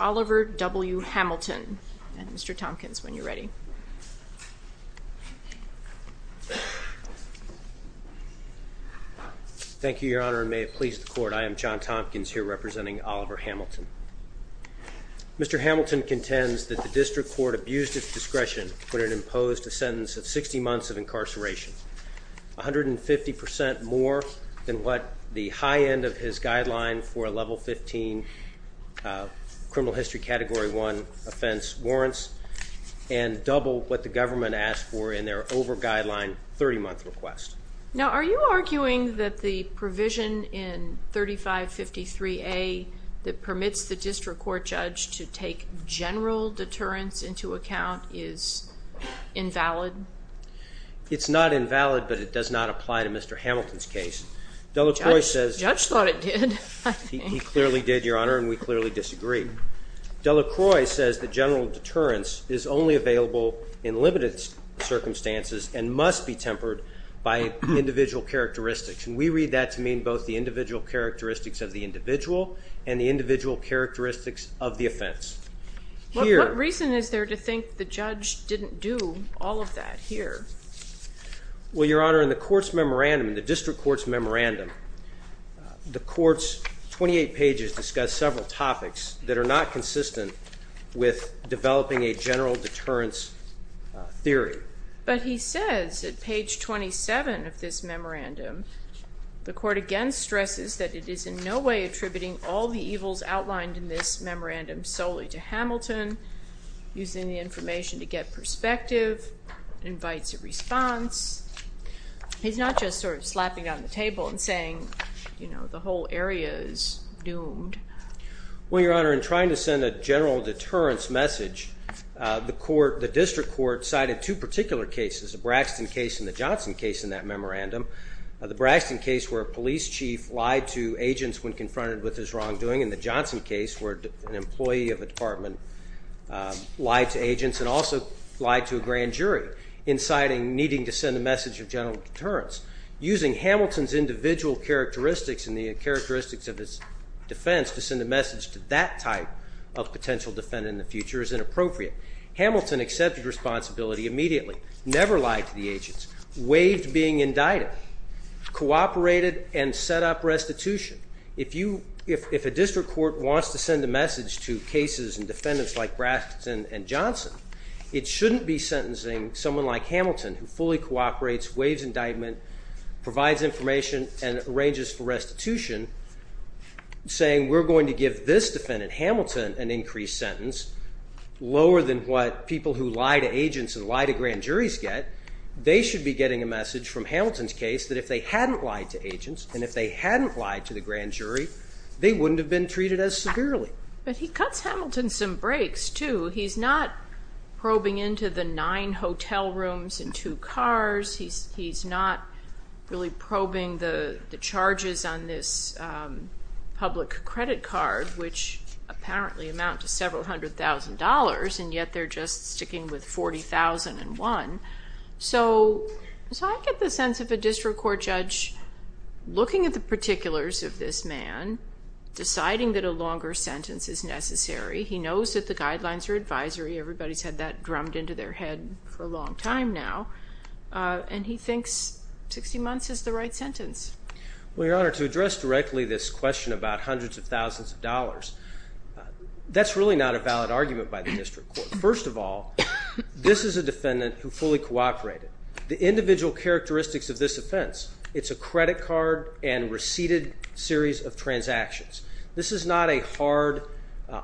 Oliver W. Hamilton Mr. Tompkins, when you're ready. Thank you, Your Honor, and may it please the Court, I am John Tompkins here representing Oliver Hamilton. Mr. Hamilton contends that the District Court abused its discretion when it imposed a sentence of 60 months of incarceration, 150 percent more than what the high end of his guideline for a level 15 criminal history category 1 offense warrants, and double what the government asked for in their over-guideline 30-month request. Now, are you arguing that the provision in 3553A that permits the District Court judge to take general deterrence into account is invalid? It's not invalid, but it does not apply to Mr. Hamilton's case. The judge thought it did. He clearly did, Your Honor, and we clearly disagree. Delacroix says that general deterrence is only available in limited circumstances and must be tempered by individual characteristics. And we read that to mean both the individual characteristics of the individual and the individual characteristics of the offense. What reason is there to think the judge didn't do all of that here? Well, Your Honor, in the Court's memorandum, the District Court's memorandum, the Court's 28 pages discuss several topics that are not consistent with developing a general deterrence theory. But he says at page 27 of this memorandum, the Court again stresses that it is in no way attributing all the evils outlined in this memorandum solely to Hamilton, using the information to get perspective, invites a response. He's not just sort of slapping down the table and saying, you know, the whole area is doomed. Well, Your Honor, in trying to send a general deterrence message, the District Court cited two particular cases, the Braxton case and the Johnson case in that memorandum. The Braxton case where a police chief lied to agents when confronted with his wrongdoing and the Johnson case where an employee of a department lied to agents and also lied to a grand jury, inciting needing to send a message of general deterrence. Using Hamilton's individual characteristics and the characteristics of his defense to send a message to that type of potential defendant in the future is inappropriate. Hamilton accepted responsibility immediately, never lied to the agents, waived being indicted, cooperated and set up restitution. If a District Court wants to send a message to cases and defendants like Braxton and Johnson, it shouldn't be sentencing someone like Hamilton, who fully cooperates, waives indictment, provides information and arranges for restitution, saying we're going to give this defendant, Hamilton, an increased sentence, lower than what people who lie to agents and lie to grand juries get. They should be getting a message from Hamilton's case that if they hadn't lied to agents and if they hadn't lied to the grand jury, they wouldn't have been treated as severely. But he cuts Hamilton some breaks, too. He's not probing into the nine hotel rooms and two cars. He's not really probing the charges on this public credit card, which apparently amount to several hundred thousand dollars, and yet they're just sticking with $40,001. So I get the sense of a District Court judge looking at the particulars of this man, deciding that a longer sentence is necessary. He knows that the guidelines are advisory. Everybody's had that drummed into their head for a long time now, and he thinks 60 months is the right sentence. Well, Your Honor, to address directly this question about hundreds of thousands of dollars, that's really not a valid argument by the District Court. First of all, this is a defendant who fully cooperated. The individual characteristics of this offense, it's a credit card and receded series of transactions. This is not a hard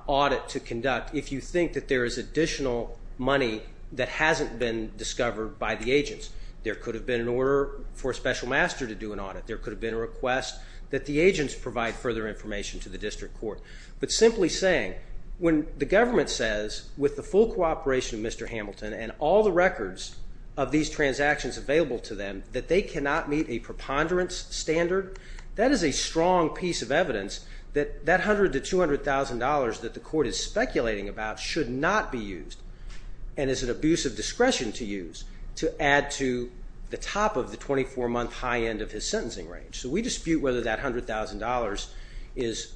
audit to conduct if you think that there is additional money that hasn't been discovered by the agents. There could have been an order for a special master to do an audit. There could have been a request that the agents provide further information to the District Court. But simply saying, when the government says, with the full cooperation of Mr. Hamilton and all the records of these transactions available to them, that they cannot meet a preponderance standard, that is a strong piece of evidence that that $100,000 to $200,000 that the court is speculating about should not be used and is an abuse of discretion to use to add to the top of the 24-month high end of his sentencing range. So we dispute whether that $100,000 is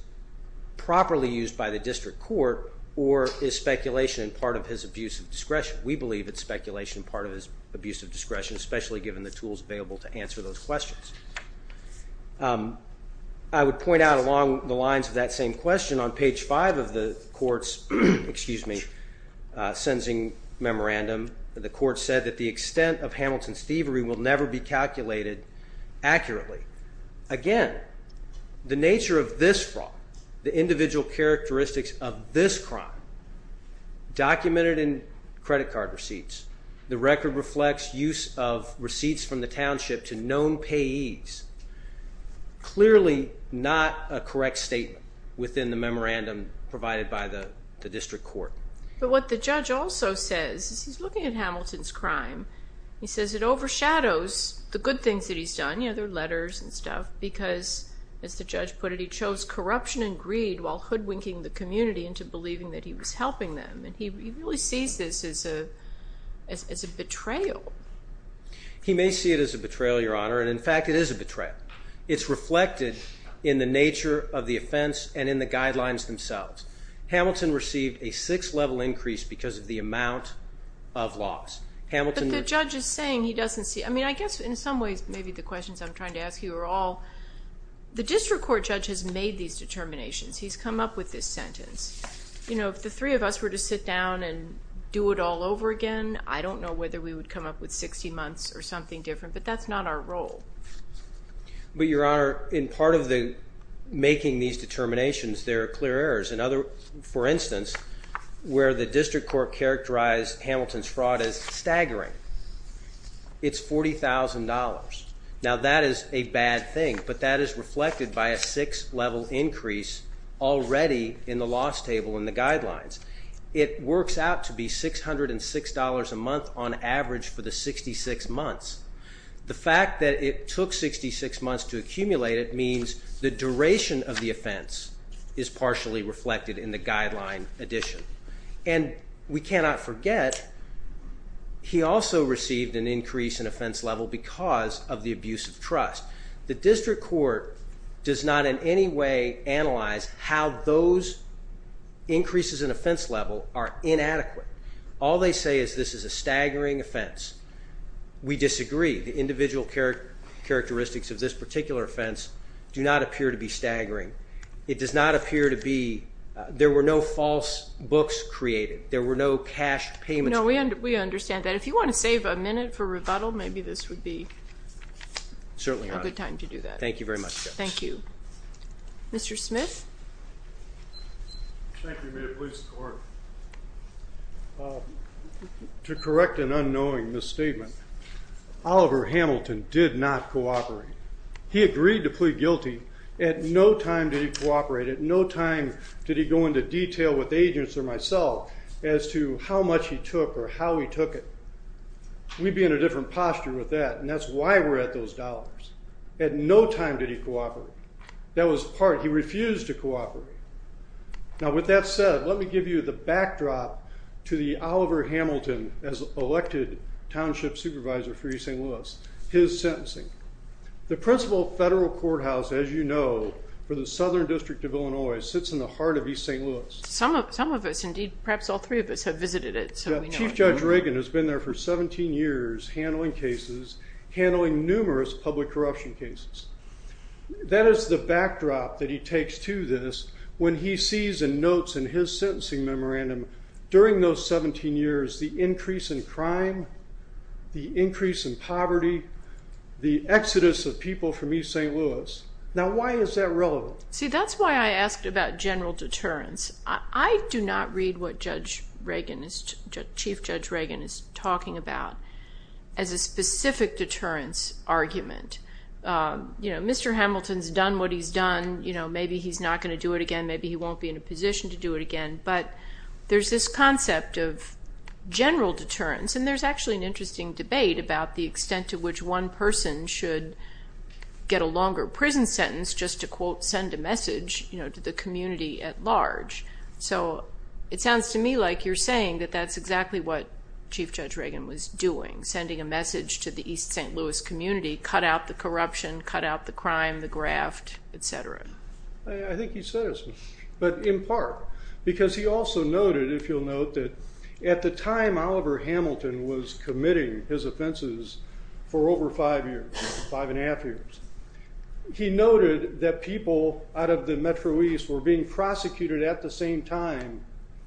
properly used by the District Court or is speculation part of his abuse of discretion. We believe it's speculation part of his abuse of discretion, especially given the tools available to answer those questions. I would point out along the lines of that same question, on page 5 of the court's sentencing memorandum, the court said that the extent of Hamilton's thievery will never be calculated accurately. Again, the nature of this fraud, the individual characteristics of this crime documented in credit card receipts, the record reflects use of receipts from the township to known payees, clearly not a correct statement within the memorandum provided by the District Court. But what the judge also says, he's looking at Hamilton's crime, he says it overshadows the good things that he's done, you know, the letters and stuff, because as the judge put it, he chose corruption and greed while hoodwinking the community into believing that he was helping them. And he really sees this as a betrayal. He may see it as a betrayal, Your Honor, and in fact it is a betrayal. It's reflected in the nature of the offense and in the guidelines themselves. Hamilton received a 6th level increase because of the amount of loss. But the judge is saying he doesn't see it. I mean, I guess in some ways maybe the questions I'm trying to ask you are all, the District Court judge has made these determinations. He's come up with this sentence. You know, if the three of us were to sit down and do it all over again, I don't know whether we would come up with 60 months or something different, but that's not our role. But, Your Honor, in part of making these determinations, there are clear errors. For instance, where the District Court characterized Hamilton's fraud as staggering. It's $40,000. Now, that is a bad thing, but that is reflected by a 6th level increase already in the loss table in the guidelines. It works out to be $606 a month on average for the 66 months. The fact that it took 66 months to accumulate it means the duration of the offense is partially reflected in the guideline addition. And we cannot forget, he also received an increase in offense level because of the abuse of trust. The District Court does not in any way analyze how those increases in offense level are inadequate. All they say is this is a staggering offense. We disagree. The individual characteristics of this particular offense do not appear to be staggering. It does not appear to be there were no false books created. There were no cash payments. No, we understand that. If you want to save a minute for rebuttal, maybe this would be a good time to do that. Certainly, Your Honor. Thank you very much, Judge. Thank you. Mr. Smith? Thank you. May it please the Court. To correct an unknowing misstatement, Oliver Hamilton did not cooperate. He agreed to plead guilty. At no time did he cooperate. At no time did he go into detail with agents or myself as to how much he took or how he took it. We'd be in a different posture with that, and that's why we're at those dollars. At no time did he cooperate. That was part. He refused to cooperate. Now, with that said, let me give you the backdrop to the Oliver Hamilton, as elected township supervisor for East St. Louis, his sentencing. The principal federal courthouse, as you know, for the Southern District of Illinois, sits in the heart of East St. Louis. Some of us, indeed, perhaps all three of us have visited it. Chief Judge Reagan has been there for 17 years handling cases, handling numerous public corruption cases. That is the backdrop that he takes to this when he sees in notes in his sentencing memorandum during those 17 years the increase in crime, the increase in poverty, the exodus of people from East St. Louis. Now, why is that relevant? See, that's why I asked about general deterrence. I do not read what Chief Judge Reagan is talking about as a specific deterrence argument. You know, Mr. Hamilton's done what he's done. Maybe he's not going to do it again. Maybe he won't be in a position to do it again. But there's this concept of general deterrence, and there's actually an interesting debate about the extent to which one person should get a longer prison sentence just to, quote, send a message to the community at large. So it sounds to me like you're saying that that's exactly what Chief Judge Reagan was doing, sending a message to the East St. Louis community, cut out the corruption, cut out the crime, the graft, et cetera. I think he says, but in part, because he also noted, if you'll note, that at the time Oliver Hamilton was committing his offenses for over five years, five and a half years, he noted that people out of the Metro East were being prosecuted at the same time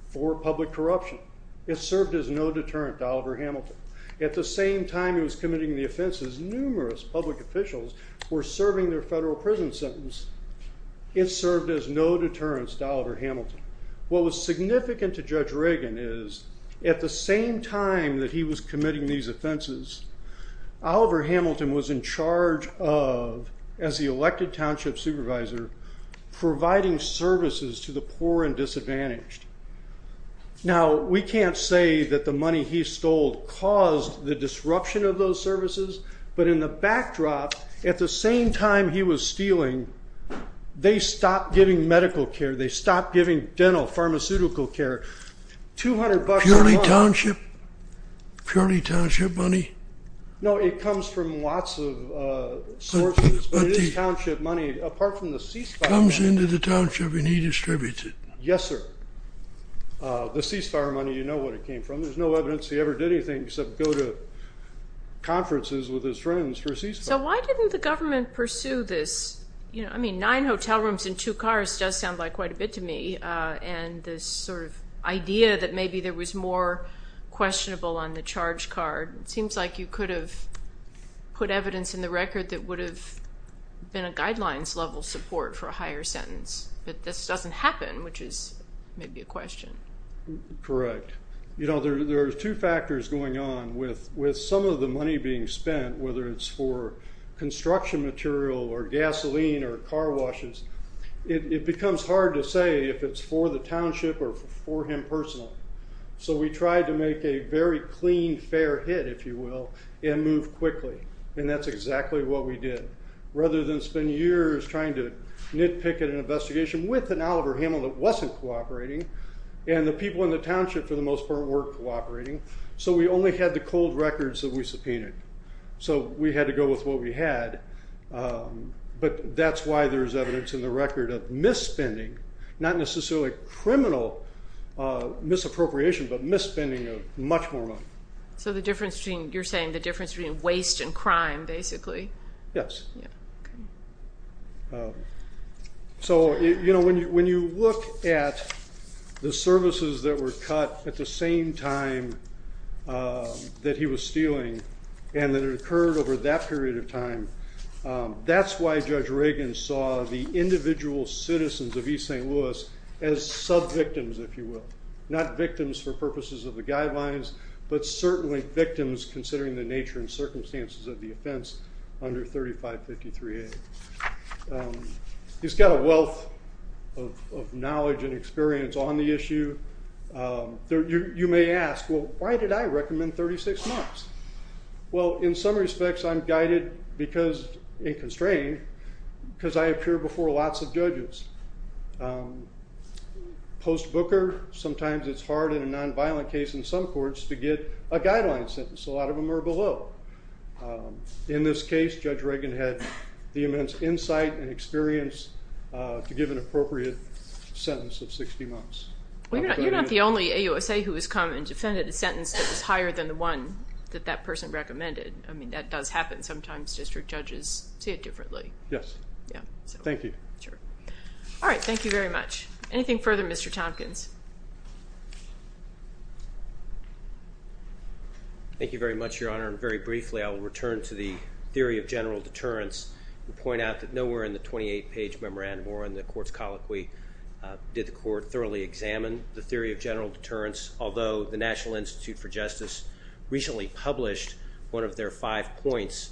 for public corruption. It served as no deterrent to Oliver Hamilton. At the same time he was committing the offenses, numerous public officials were serving their federal prison sentence. It served as no deterrence to Oliver Hamilton. What was significant to Judge Reagan is at the same time that he was committing these offenses, Oliver Hamilton was in charge of, as the elected township supervisor, providing services to the poor and disadvantaged. Now, we can't say that the money he stole caused the disruption of those services, but in the backdrop, at the same time he was stealing, they stopped giving medical care, they stopped giving dental, pharmaceutical care. Purely township money? No, it comes from lots of sources, but it is township money, apart from the ceasefire money. It comes into the township and he distributes it. Yes, sir. The ceasefire money, you know where it came from. There's no evidence he ever did anything except go to conferences with his friends for a ceasefire. So why didn't the government pursue this? You know, I mean, nine hotel rooms and two cars does sound like quite a bit to me, and this sort of idea that maybe there was more questionable on the charge card. It seems like you could have put evidence in the record that would have been a guidelines level support for a higher sentence, but this doesn't happen, which is maybe a question. Correct. You know, there are two factors going on with some of the money being spent, whether it's for construction material or gasoline or car washes. It becomes hard to say if it's for the township or for him personally. So we tried to make a very clean, fair hit, if you will, and move quickly, and that's exactly what we did. Rather than spend years trying to nitpick at an investigation with an Oliver Hamill that wasn't cooperating, and the people in the township, for the most part, weren't cooperating, so we only had the cold records that we subpoenaed. So we had to go with what we had, but that's why there's evidence in the record of misspending, not necessarily criminal misappropriation, but misspending of much more money. So the difference between, you're saying the difference between waste and crime, basically. Yes. So, you know, when you look at the services that were cut at the same time that he was stealing and that it occurred over that period of time, that's why Judge Reagan saw the individual citizens of East St. Louis as subvictims, if you will, not victims for purposes of the guidelines, but certainly victims considering the nature and circumstances of the offense under 3553A. He's got a wealth of knowledge and experience on the issue. You may ask, well, why did I recommend 36 months? Well, in some respects I'm guided because, and constrained, because I appear before lots of judges. Post-Booker, sometimes it's hard in a nonviolent case in some courts to get a guideline sentence. A lot of them are below. In this case, Judge Reagan had the immense insight and experience to give an appropriate sentence of 60 months. You're not the only AUSA who has come and defended a sentence that was higher than the one that that person recommended. I mean, that does happen. Sometimes district judges see it differently. Yes. Thank you. Sure. All right. Thank you very much. Anything further, Mr. Tompkins? Thank you very much, Your Honor, and very briefly I will return to the theory of general deterrence and point out that nowhere in the 28-page memorandum or in the court's colloquy did the court thoroughly examine the theory of general deterrence, although the National Institute for Justice recently published one of their five points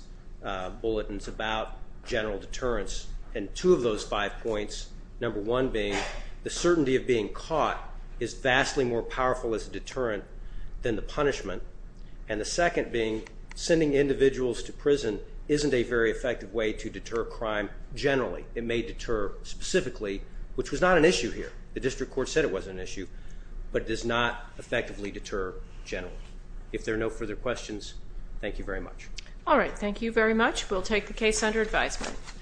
bulletins about general deterrence, and two of those five points, number one being the certainty of being caught is vastly more powerful as a deterrent than the punishment, and the second being sending individuals to prison isn't a very effective way to deter crime generally. It may deter specifically, which was not an issue here. The district court said it was an issue, but it does not effectively deter generally. If there are no further questions, thank you very much. All right. Thank you very much. We'll take the case under advisement.